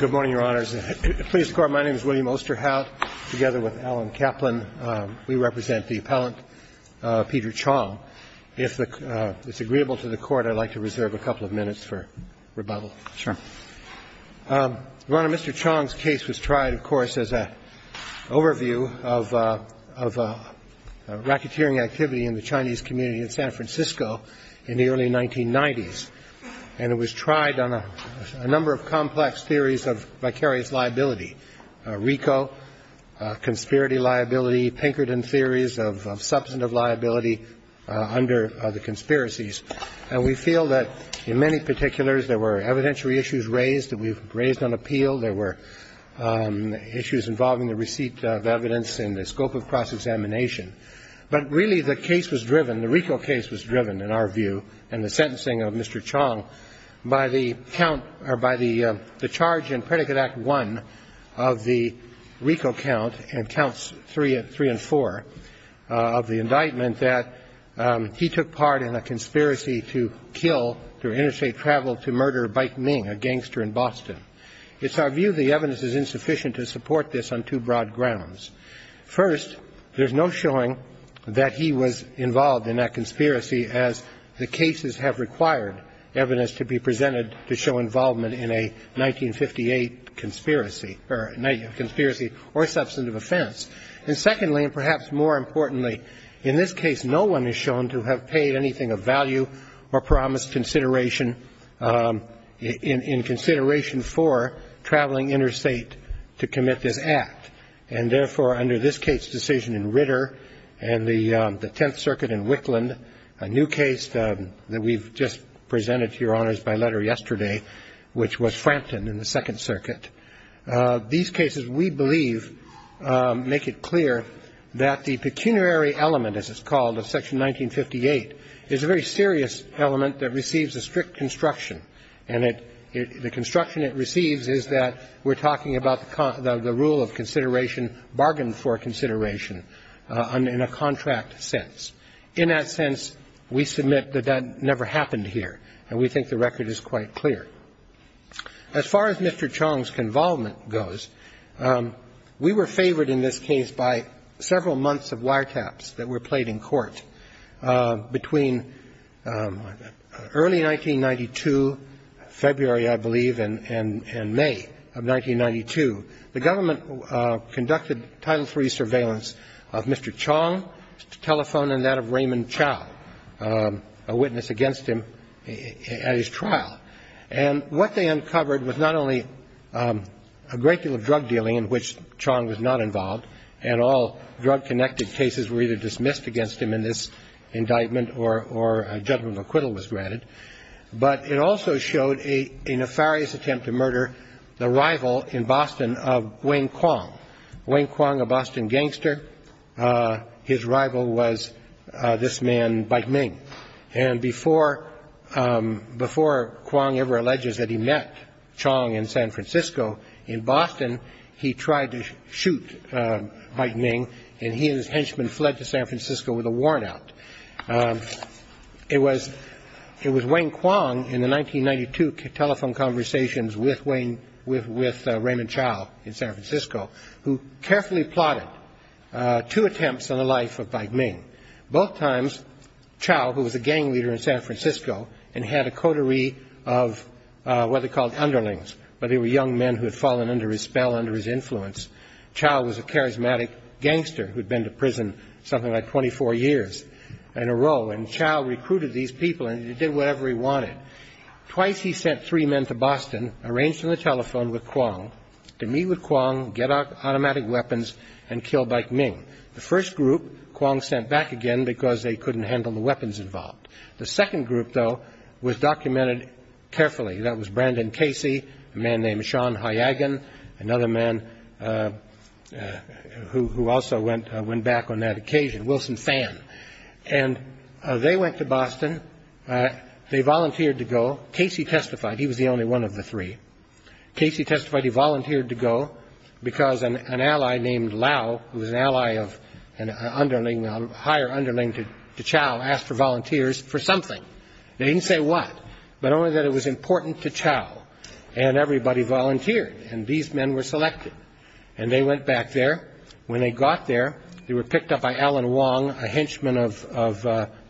Good morning, Your Honors. Please record my name is William Osterhout, together with Alan Kaplan. We represent the appellant, Peter Chong. If it's agreeable to the Court, I'd like to reserve a couple of minutes for rebuttal. Sure. Your Honor, Mr. Chong's case was tried, of course, as an overview of racketeering activity in the Chinese community in San Francisco in the early 1990s. And it was tried on a number of complex theories of vicarious liability, RICO, conspiracy liability, Pinkerton theories of substantive liability under the conspiracies. And we feel that in many particulars, there were evidentiary issues raised that we've raised on appeal. There were issues involving the receipt of evidence in the scope of cross-examination. But really, the case was driven, the RICO case was driven, in our view, and the sentencing of Mr. Chong by the count or by the charge in Predicate Act I of the RICO count, and counts three and four, of the indictment that he took part in a conspiracy to kill, through interstate travel, to murder Bai Ming, a gangster in Boston. It's our view the evidence is insufficient to support this on two broad grounds. First, there's no showing that he was involved in that conspiracy, as the cases have required evidence to be presented to show involvement in a 1958 conspiracy or a substantive offense. And secondly, and perhaps more importantly, in this case, no one is shown to have paid anything of value or promised consideration in consideration for traveling interstate to commit this act. And therefore, under this case decision in Ritter and the Tenth Circuit in Wickland, a new case that we've just presented to Your Honors by letter yesterday, which was Frampton in the Second Circuit, these cases, we believe, make it clear that the pecuniary element, as it's called, of Section 1958, is a very serious element that receives a strict construction. And the construction it receives is that we're talking about the rule of consideration, bargain for consideration, in a contract sense. In that sense, we submit that that never happened here, and we think the record is quite clear. As far as Mr. Chong's convolvement goes, we were favored in this case by several months of wiretaps that were played in court. Between early 1992, February, I believe, and May of 1992, the government conducted Title III surveillance of Mr. Chong's telephone and that of Raymond Chow, a witness against him at his trial. And what they uncovered was not only a great deal of drug dealing in which Chong was not convicted, but it also showed a nefarious attempt to murder the rival in Boston of Wayne Kwong. Wayne Kwong, a Boston gangster, his rival was this man, Bai Ming. And before Kwong ever alleges that he met Chong in San Francisco, in Boston, he tried to shoot Bai Ming. And he and his henchmen fled to San Francisco with a warnout. It was Wayne Kwong in the 1992 telephone conversations with Raymond Chow in San Francisco who carefully plotted two attempts on the life of Bai Ming. Both times, Chow, who was a gang leader in San Francisco and had a coterie of what they called underlings, but they were young men who had fallen under his spell, under his something like 24 years in a row. And Chow recruited these people and he did whatever he wanted. Twice he sent three men to Boston, arranged on the telephone with Kwong, to meet with Kwong, get automatic weapons, and kill Bai Ming. The first group, Kwong sent back again because they couldn't handle the weapons involved. The second group, though, was documented carefully. That was Brandon Casey, a man named Sean Hyagan, another man who also went back on that occasion, Wilson Fan. And they went to Boston. They volunteered to go. Casey testified. He was the only one of the three. Casey testified he volunteered to go because an ally named Lau, who was an ally of a higher underling to Chow, asked for volunteers for something. They didn't say what, but only that it was important to Chow. And everybody volunteered. And these men were selected. And they went back there. When they got there, they were picked up by Alan Wong, a henchman of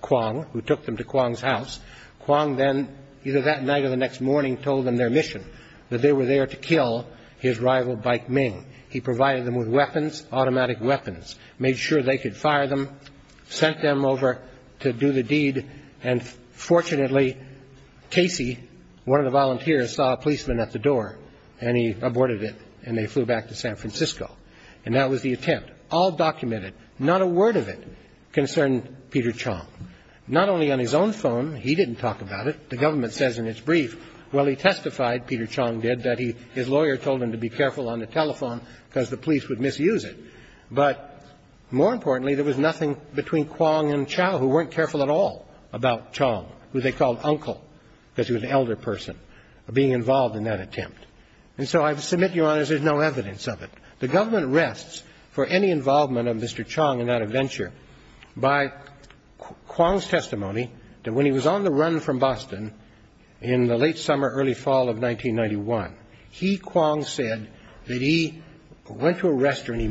Kwong, who took them to Kwong's house. Kwong then, either that night or the next morning, told them their mission, that they were there to kill his rival Bai Ming. He provided them with weapons, automatic weapons, made sure they could fire them, sent them over to do the deed. And fortunately, Casey, one of the volunteers, saw a policeman at the door. And he aborted it. And they flew back to San Francisco. And that was the attempt. All documented. Not a word of it concerned Peter Chong. Not only on his own phone, he didn't talk about it. The government says in its brief, well, he testified, Peter Chong did, that his lawyer told him to be careful on the telephone because the police would misuse it. But more importantly, there was nothing between Kwong and Chow, who weren't careful at all about Chong, who they called Uncle, because he was an elder person, being involved in that attempt. And so I submit, Your Honors, there's no evidence of it. The government rests for any involvement of Mr. Chong in that adventure by Kwong's testimony that when he was on the run from Boston in the late summer, early fall of 1991, he, Kwong, said that he went to a restaurant. He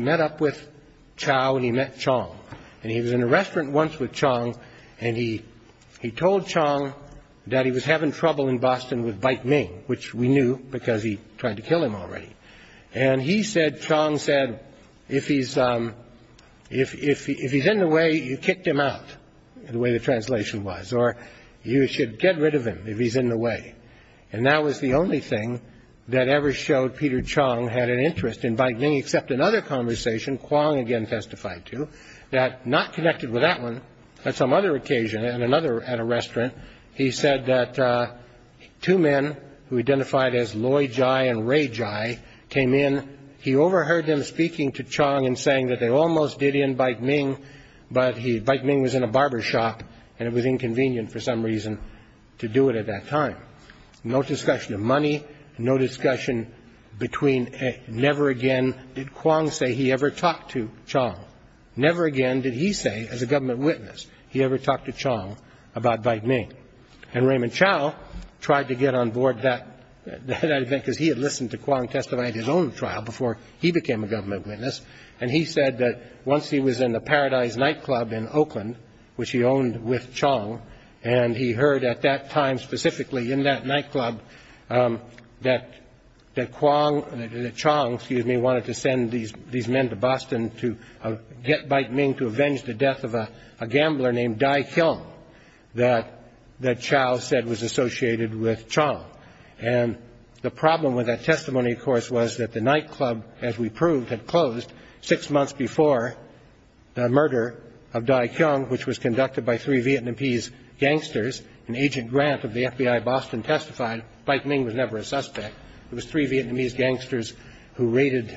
met up with Chow and he met Chong. And he was in a restaurant once with Chong. And he told Chong that he was having trouble in Boston with Bait Ming, which we knew because he tried to kill him already. And he said, Chong said, if he's in the way, you kicked him out, the way the translation was, or you should get rid of him if he's in the way. And that was the only thing that ever showed Peter Chong had an interest in Bait Ming, except another conversation, Kwong again testified to, that, not connected with that one, on some other occasion at a restaurant, he said that two men who identified as Loy Jai and Ray Jai came in. He overheard them speaking to Chong and saying that they almost did in Bait Ming, but Bait to do it at that time. No discussion of money. No discussion between never again did Kwong say he ever talked to Chong. Never again did he say, as a government witness, he ever talked to Chong about Bait Ming. And Raymond Chow tried to get on board that event because he had listened to Kwong testify at his own trial before he became a government witness. And he said that once he was in the Paradise Nightclub in Oakland, which he owned with Chong, and he heard at that time, specifically in that nightclub, that Chong wanted to send these men to Boston to get Bait Ming to avenge the death of a gambler named Dai Keong that Chow said was associated with Chong. And the problem with that testimony, of course, was that the nightclub, as we proved, had closed six months before the murder of Dai Keong, which was conducted by three Vietnamese gangsters. And Agent Grant of the FBI Boston testified Bait Ming was never a suspect. It was three Vietnamese gangsters who raided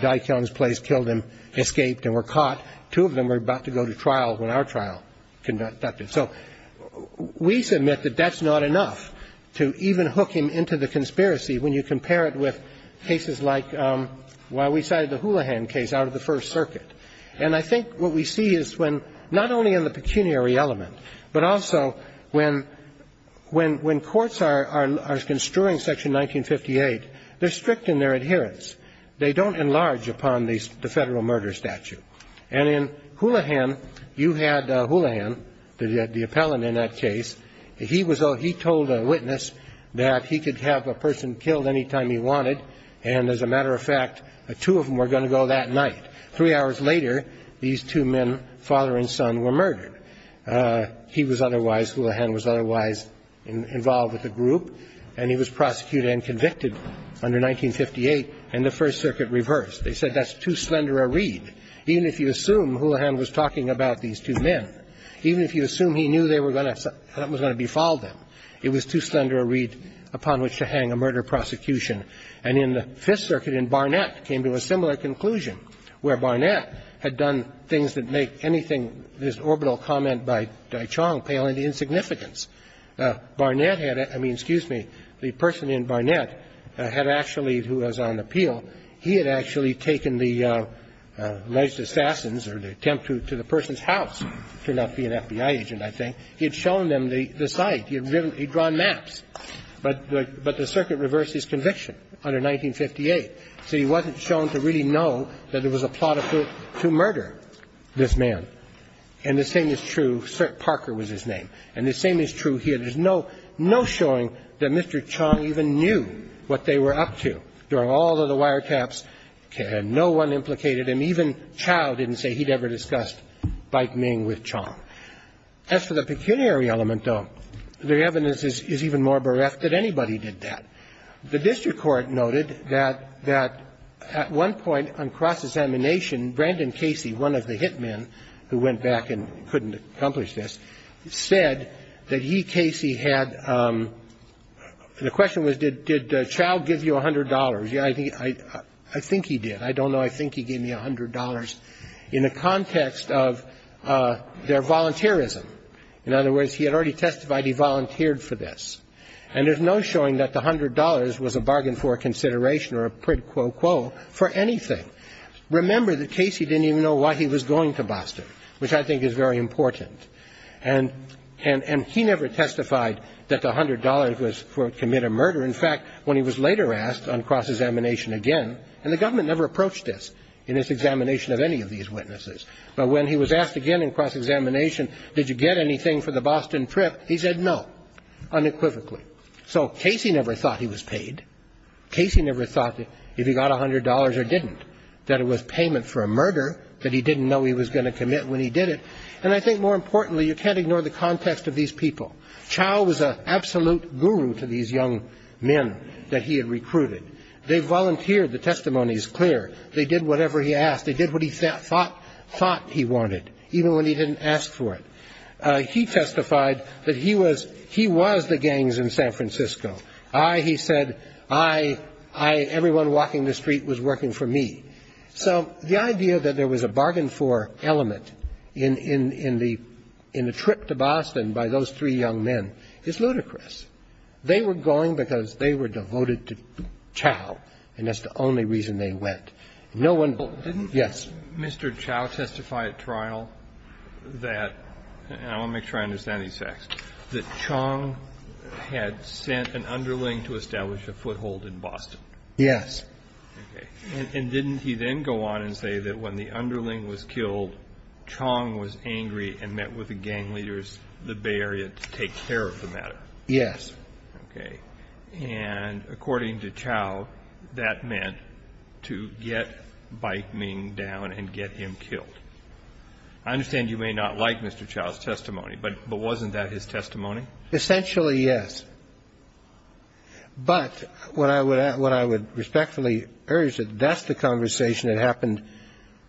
Dai Keong's place, killed him, escaped, and were caught. Two of them were about to go to trial when our trial conducted. So we submit that that's not enough to even hook him into the conspiracy when you compare it with cases like why we cited the Houlihan case out of the First Circuit. And I think what we see is when not only in the pecuniary element, but also when courts are construing Section 1958, they're strict in their adherence. They don't enlarge upon the Federal murder statute. And in Houlihan, you had Houlihan, the appellant in that case. He told a witness that he could have a person killed anytime he wanted. And as a matter of fact, two of them were going to go that night. Three hours later, these two men, father and son, were murdered. He was otherwise, Houlihan was otherwise involved with the group. And he was prosecuted and convicted under 1958 in the First Circuit reverse. They said that's too slender a read. Even if you assume Houlihan was talking about these two men, even if you assume he knew they were going to be followed, it was too slender a read upon which to hang a murder prosecution. And in the Fifth Circuit, in Barnett, came to a similar conclusion, where Barnett had done things that make anything, this orbital comment by Dai Chong, pale in insignificance. Barnett had to be, excuse me, the person in Barnett had actually, who was on appeal, he had actually taken the alleged assassins or the attempt to the person's house, turned out to be an FBI agent, I think. He had shown them the site. He had drawn maps. But the circuit reversed his conviction under 1958. So he wasn't shown to really know that it was a plot to murder this man. And the same is true, Sir Parker was his name. And the same is true here. There's no showing that Mr. Chong even knew what they were up to during all of the firetaps. No one implicated him. Even Chow didn't say he'd ever discussed Baik Ming with Chong. As for the pecuniary element, though, the evidence is even more bereft that anybody did that. The district court noted that at one point on cross-examination, Brandon Casey, one of the hit men who went back and couldn't accomplish this, said that he, Casey, had the question was, did Chow give you $100? Yeah, I think he did. I don't know. I think he gave me $100 in the context of their volunteerism. In other words, he had already testified he volunteered for this. And there's no showing that the $100 was a bargain for consideration or a prid quo quo for anything. Remember that Casey didn't even know why he was going to Boston, which I think is very important. And he never testified that the $100 was for commit a murder. In fact, when he was later asked on cross-examination again, and the government never approached this in this examination of any of these witnesses. But when he was asked again in cross-examination, did you get anything for the Boston trip, he said no, unequivocally. So Casey never thought he was paid. Casey never thought if he got $100 or didn't, that it was payment for a murder that he didn't know he was going to commit when he did it. And I think more importantly, you can't ignore the context of these people. Chao was an absolute guru to these young men that he had recruited. They volunteered. The testimony is clear. They did whatever he asked. They did what he thought he wanted, even when he didn't ask for it. He testified that he was the gangs in San Francisco. I, he said, I, everyone walking the street was working for me. So the idea that there was a bargain for element in the trip to Boston by those three young men is ludicrous. They were going because they were devoted to Chao, and that's the only reason they went. No one else. Yes. Mr. Chao testified at trial that, and I want to make sure I understand these facts, that Chong had sent an underling to establish a foothold in Boston. Yes. Okay. And didn't he then go on and say that when the underling was killed, Chong was angry and met with the gang leaders, the Bay Area, to take care of the matter? Yes. Okay. And according to Chao, that meant to get Bai Ming down and get him killed. I understand you may not like Mr. Chao's testimony, but wasn't that his testimony? Essentially, yes. But what I would respectfully urge is that that's the conversation that happened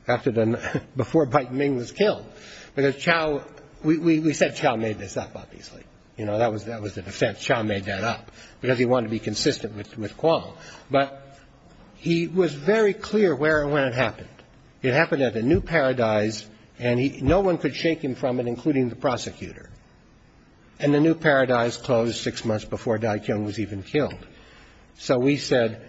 after the, before Bai Ming was killed, because Chao, we said Chao made this up, obviously. You know, that was the defense, Chao made that up, because he wanted to be consistent with Kwong. But he was very clear where and when it happened. It happened at the New Paradise, and no one could shake him from it, including the prosecutor. And the New Paradise closed six months before Dai Qiong was even killed. So we said,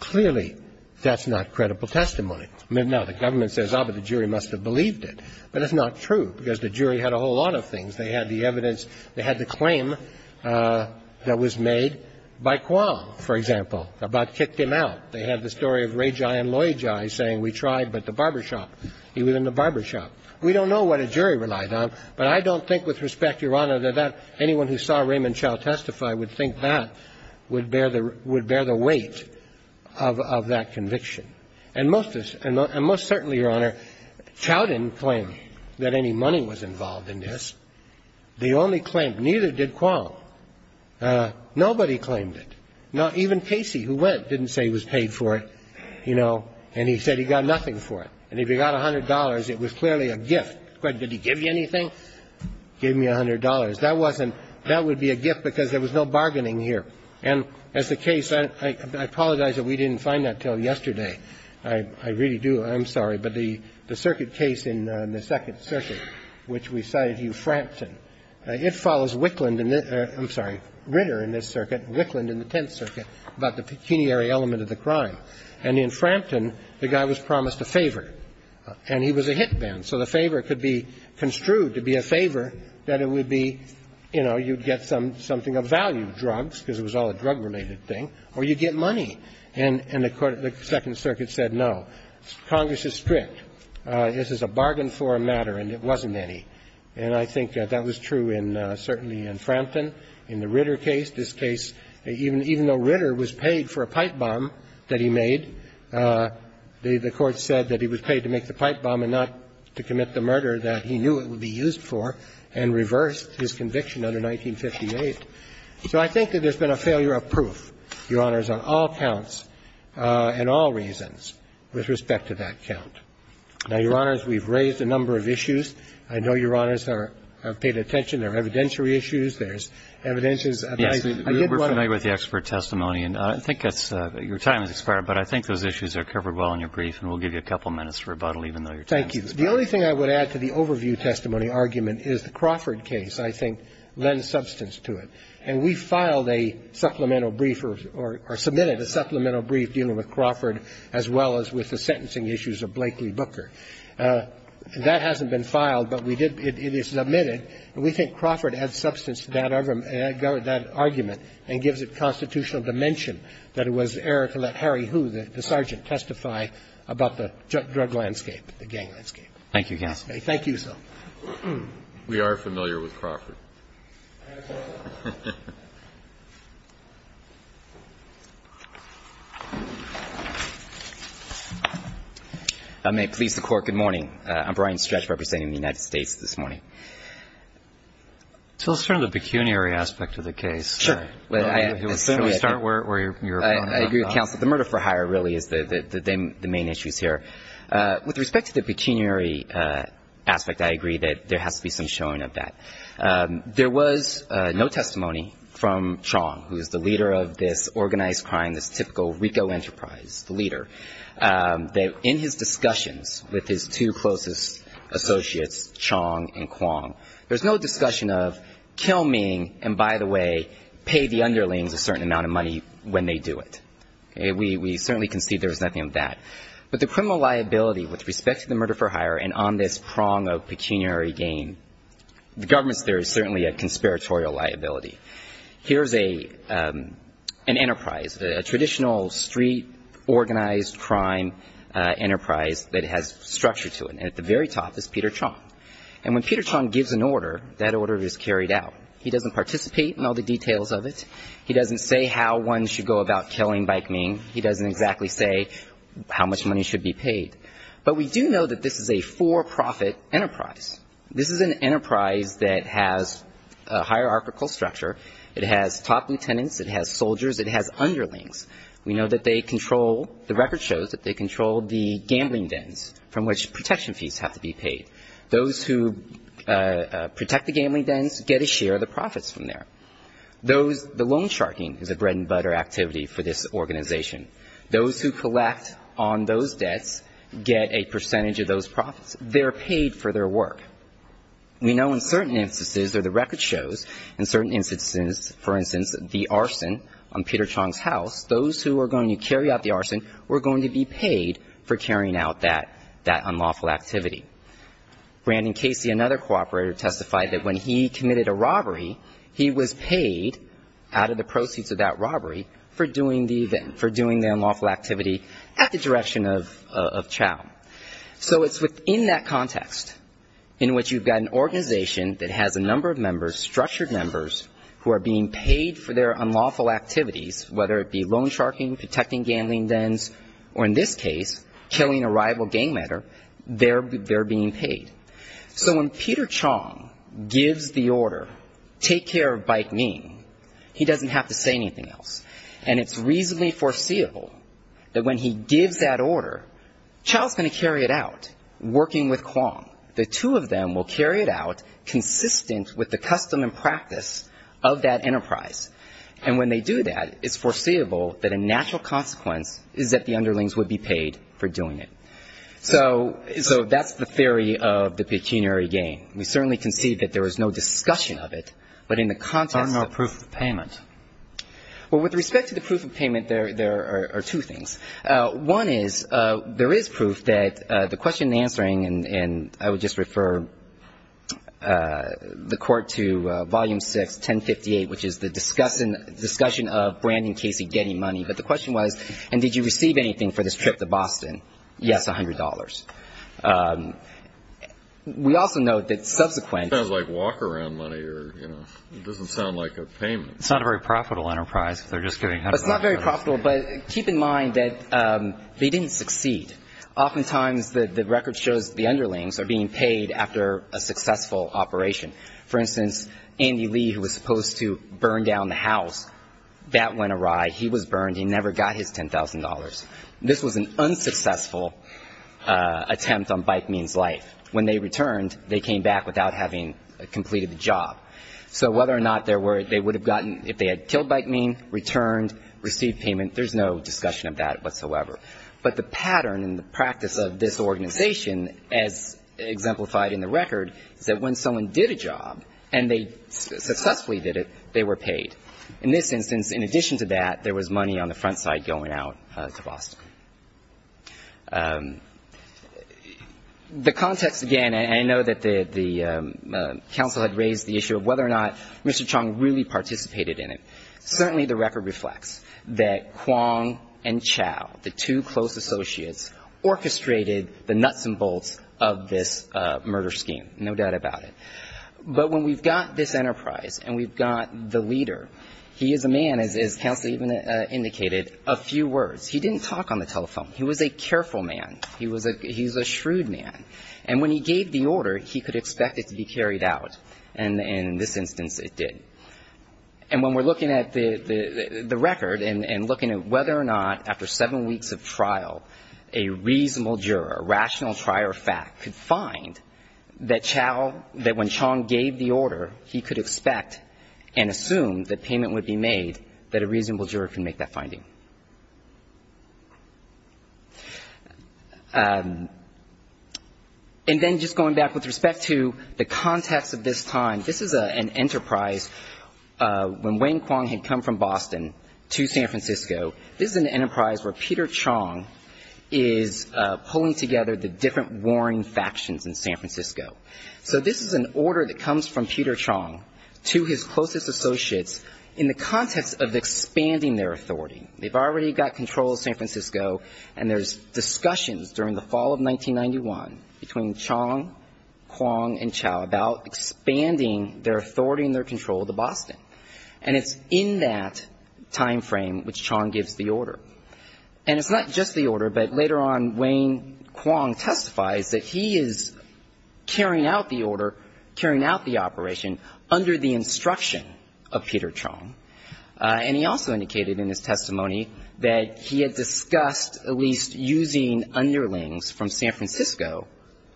clearly, that's not credible testimony. Now, the government says, ah, but the jury must have believed it. But it's not true, because the jury had a whole lot of things. They had the evidence. They had the claim that was made by Kwong, for example, about kicked him out. They had the story of Rejai and Loyjai saying, we tried, but the barbershop. He was in the barbershop. We don't know what a jury relied on, but I don't think, with respect, Your Honor, that anyone who saw Raymond Chao testify would think that would bear the weight of that conviction. And most certainly, Your Honor, Chao didn't claim that any money was involved in this. They only claimed ñ neither did Kwong. Nobody claimed it. Now, even Casey, who went, didn't say he was paid for it, you know, and he said he got nothing for it. And if he got $100, it was clearly a gift. Did he give you anything? Give me $100. That wasn't ñ that would be a gift, because there was no bargaining here. And as the case ñ I apologize that we didn't find that until yesterday. I really do. I'm sorry. But the circuit case in the Second Circuit, which we cited Hugh Frampton, it follows Wickland in this ñ I'm sorry, Ritter in this circuit, Wickland in the Tenth Circuit about the pecuniary element of the crime. And in Frampton, the guy was promised a favor, and he was a hit man. So the favor could be construed to be a favor that it would be, you know, you'd get something of value, drugs, because it was all a drug-related thing, or you'd get money. And the Second Circuit said no. Congress is strict. This is a bargain for a matter, and it wasn't any. And I think that that was true in ñ certainly in Frampton. In the Ritter case, this case, even though Ritter was paid for a pipe bomb that he made, the court said that he was paid to make the pipe bomb and not to commit the So I think that there's been a failure of proof, Your Honors, on all counts and all reasons with respect to that count. Now, Your Honors, we've raised a number of issues. I know Your Honors have paid attention. There are evidentiary issues. There's evidentiary ñ Roberts. Yes. I did want to ñ We're familiar with the expert testimony, and I think that's ñ your time has expired, but I think those issues are covered well in your brief, and we'll give you a couple minutes for rebuttal, even though your time is up. Thank you. The only thing I would add to the overview testimony argument is the Crawford case, I think, lends substance to it. And we filed a supplemental brief or submitted a supplemental brief dealing with Crawford as well as with the sentencing issues of Blakely Booker. That hasn't been filed, but we did ñ it is submitted. And we think Crawford adds substance to that argument and gives it constitutional dimension that it was error to let Harry Hu, the sergeant, testify about the drug landscape, the gang landscape. Thank you, Your Honor. Thank you, sir. We are familiar with Crawford. I may please the Court. Good morning. I'm Brian Stretch representing the United States this morning. So let's turn to the pecuniary aspect of the case. Sure. As soon as we start where you were going. I agree with counsel. The murder for hire really is the main issues here. With respect to the pecuniary aspect, I agree that there has to be some showing of that. There was no testimony from Chong, who is the leader of this organized crime, this typical RICO enterprise, the leader, that in his discussions with his two closest associates, Chong and Kwong, there's no discussion of kill me and, by the way, pay the underlings a certain amount of money when they do it. We certainly concede there was nothing of that. But the criminal liability with respect to the murder for hire and on this prong of pecuniary gain, the government's there is certainly a conspiratorial liability. Here's an enterprise, a traditional street organized crime enterprise that has structure to it. And at the very top is Peter Chong. And when Peter Chong gives an order, that order is carried out. He doesn't participate in all the details of it. He doesn't say how one should go about killing Baik Ming. He doesn't exactly say how much money should be paid. But we do know that this is a for-profit enterprise. This is an enterprise that has a hierarchical structure. It has top lieutenants. It has soldiers. It has underlings. We know that they control, the record shows that they control the gambling dens from which protection fees have to be paid. Those who protect the gambling dens get a share of the profits from there. Those, the loan sharking is a bread and butter activity for this organization. Those who collect on those debts get a percentage of those profits. They're paid for their work. We know in certain instances, or the record shows, in certain instances, for instance, the arson on Peter Chong's house, those who are going to carry out the arson were going to be paid for carrying out that, that unlawful activity. Brandon Casey, another cooperator, testified that when he committed a robbery, he was paid out of the proceeds of that robbery for doing the event, for doing the unlawful activity at the direction of Chao. So it's within that context in which you've got an organization that has a number of members, structured members, who are being paid for their unlawful activities, whether it be loan sharking, protecting gambling dens, or in this case, killing a rival gang member, they're being paid. So when Peter Chong gives the order, take care of Baik Ming, he doesn't have to say anything else. And it's reasonably foreseeable that when he gives that order, Chao's going to carry it out, working with Kuang. The two of them will carry it out, consistent with the custom and practice of that enterprise. And when they do that, it's foreseeable that a natural consequence is that the underlings would be paid for doing it. So that's the theory of the pecuniary game. We certainly can see that there is no discussion of it, but in the context of the proof of payment. Well, with respect to the proof of payment, there are two things. One is there is proof that the question answering, and I would just refer the Court to Volume 6, 1058, which is the discussion of Brandon Casey getting money. But the question was, and did you receive anything for this trip to Boston? Yes, $100. We also note that subsequent to that. It sounds like walk-around money or, you know, it doesn't sound like a payment. It's not a very profitable enterprise if they're just giving $100. It's not very profitable, but keep in mind that they didn't succeed. Oftentimes the record shows the underlings are being paid after a successful operation. For instance, Andy Lee, who was supposed to burn down the house, that went awry. He was burned. He never got his $10,000. This was an unsuccessful attempt on Byke Mean's life. When they returned, they came back without having completed the job. So whether or not they would have gotten, if they had killed Byke Mean, returned, received payment, there's no discussion of that whatsoever. But the pattern and the practice of this organization, as exemplified in the record, is that when someone did a job and they successfully did it, they were paid. In this instance, in addition to that, there was money on the front side going out to Boston. The context, again, I know that the counsel had raised the issue of whether or not Mr. Chong really participated in it. Certainly the record reflects that Kwong and Chow, the two close associates, orchestrated the nuts and bolts of this murder scheme. No doubt about it. But when we've got this enterprise and we've got the leader, he is a man, as counsel even indicated, a few words. He didn't talk on the telephone. He was a careful man. He was a ‑‑ he's a shrewd man. And when he gave the order, he could expect it to be carried out. And in this instance, it did. And when we're looking at the record and looking at whether or not, after seven weeks of trial, a reasonable juror, a rational trier of fact, could find that Chow ‑‑ that when Chong gave the order, he could expect and assume that payment would be made, that a reasonable juror could make that finding. And then just going back with respect to the context of this time, this is an enterprise. When Wayne Kwong had come from Boston to San Francisco, this is an enterprise where Peter Chong is pulling together the different warring factions in San Francisco. So this is an order that comes from Peter Chong to his closest associates in the context of expanding their authority. They've already got control of San Francisco, and there's discussions during the fall of 1991 between Chong, Kwong, and Chow about expanding their authority and their control of the Boston. And it's in that timeframe which Chong gives the order. And it's not just the order, but later on, Wayne Kwong testifies that he is carrying out the order, carrying out the operation under the instruction of Peter Chong. And he also indicated in his testimony that he had discussed at least using underlings from San Francisco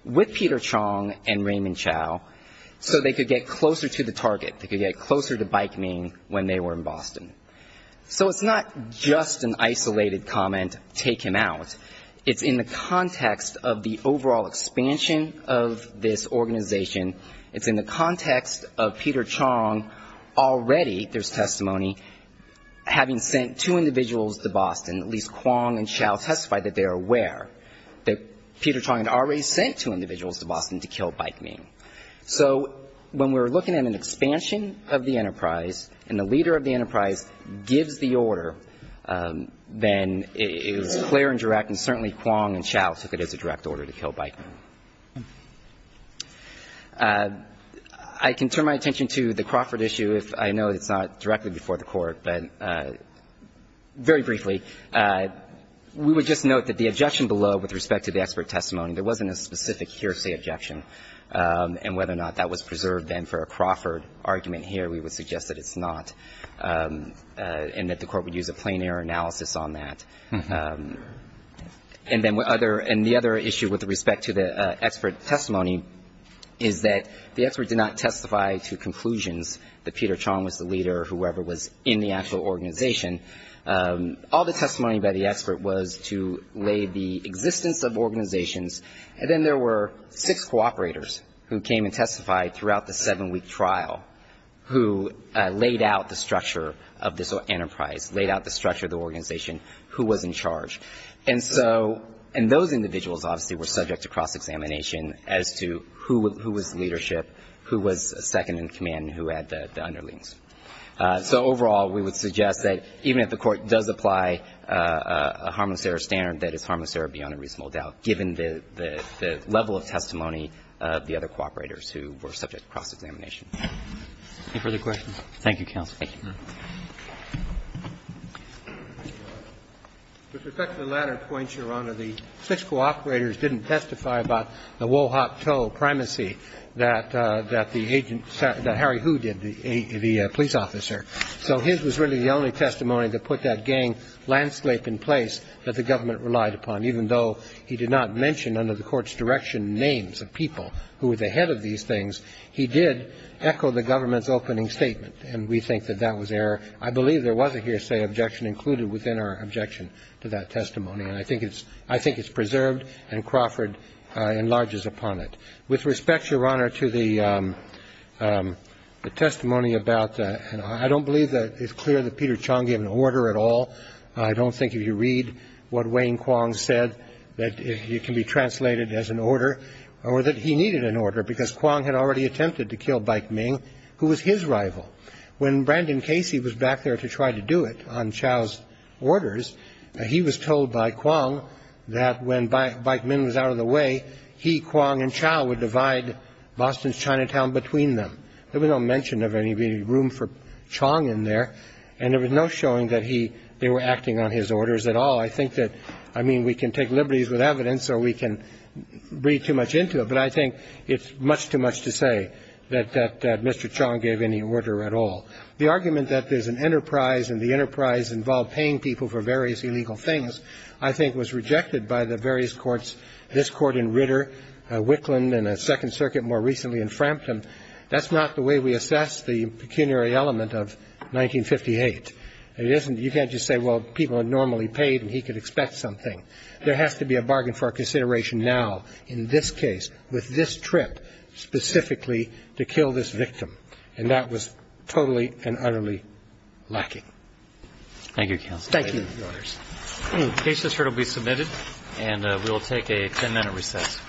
with Peter Chong and Raymond Chow, so they could get closer to the target, they could get closer to Bai Kming when they were in Boston. So it's not just an isolated comment, take him out. It's in the context of the overall expansion of this organization. It's in the context of Peter Chong already, there's testimony, having sent two individuals to Boston, at least Kwong and Chow testified that they are aware that Peter Chong had already sent two individuals to Boston to kill Bai Kming. So when we're looking at an expansion of the enterprise and the leader of the enterprise gives the order, then it is clear and direct, and certainly Kwong and Chow took it as a direct order to kill Bai Kming. I can turn my attention to the Crawford issue if I know it's not directly before the Court, but very briefly, we would just note that the objection below with respect to the expert testimony, there wasn't a specific hearsay objection, and whether or not that was preserved then for a Crawford argument here, we would suggest that it's not, and that the Court would use a plain-error analysis on that. And then the other issue with respect to the expert testimony is that the expert did not testify to conclusions that Peter Chong was the leader or whoever was in the actual organization. All the testimony by the expert was to lay the existence of organizations, and then there were six cooperators who came and testified throughout the seven-week trial, who laid out the structure of this enterprise, laid out the structure of the organization, who was in charge. And so, and those individuals obviously were subject to cross-examination as to who was leadership, who was second in command, and who had the underlings. So overall, we would suggest that even if the Court does apply a harmless error standard, that it's harmless error beyond a reasonable doubt, given the level of testimony of the other cooperators who were subject to cross-examination. Any further questions? Thank you, counsel. Thank you, Your Honor. With respect to the latter points, Your Honor, the six cooperators didn't testify about the woe-hot-toe primacy that the agent, that Harry Hu did, the police officer. So his was really the only testimony that put that gang landscape in place that the government relied upon, even though he did not mention under the Court's direction names of people who were the head of these things. He did echo the government's opening statement, and we think that that was error. I believe there was a hearsay objection included within our objection to that testimony, and I think it's preserved, and Crawford enlarges upon it. With respect, Your Honor, to the testimony about, I don't believe that it's clear that Peter Chong gave an order at all. I don't think if you read what Wayne Kwong said that it can be translated as an order, or that he needed an order, because Kwong had already attempted to kill Bike Ming, who was his rival. When Brandon Casey was back there to try to do it on Chow's orders, he was told by Kwong that when Bike Ming was out of the way, he, Kwong, and Chow would divide Boston's Chinatown between them. There was no mention of any room for Chong in there, and there was no showing that they were acting on his orders at all. I think that, I mean, we can take liberties with evidence, or we can read too much into it, but I think it's much too much to say that Mr. Chong gave any order at all. The argument that there's an enterprise, and the enterprise involved paying people for various illegal things, I think was rejected by the various courts, this Court in Ritter, Wicklund, and a Second Circuit more recently in Frampton. That's not the way we assess the pecuniary element of 1958. It isn't. You can't just say, well, people are normally paid, and he could expect something. There has to be a bargain for consideration now in this case, with this trip specifically, to kill this victim. And that was totally and utterly lacking. Thank you, Counsel. Thank you. The case is here to be submitted, and we will take a ten-minute recess.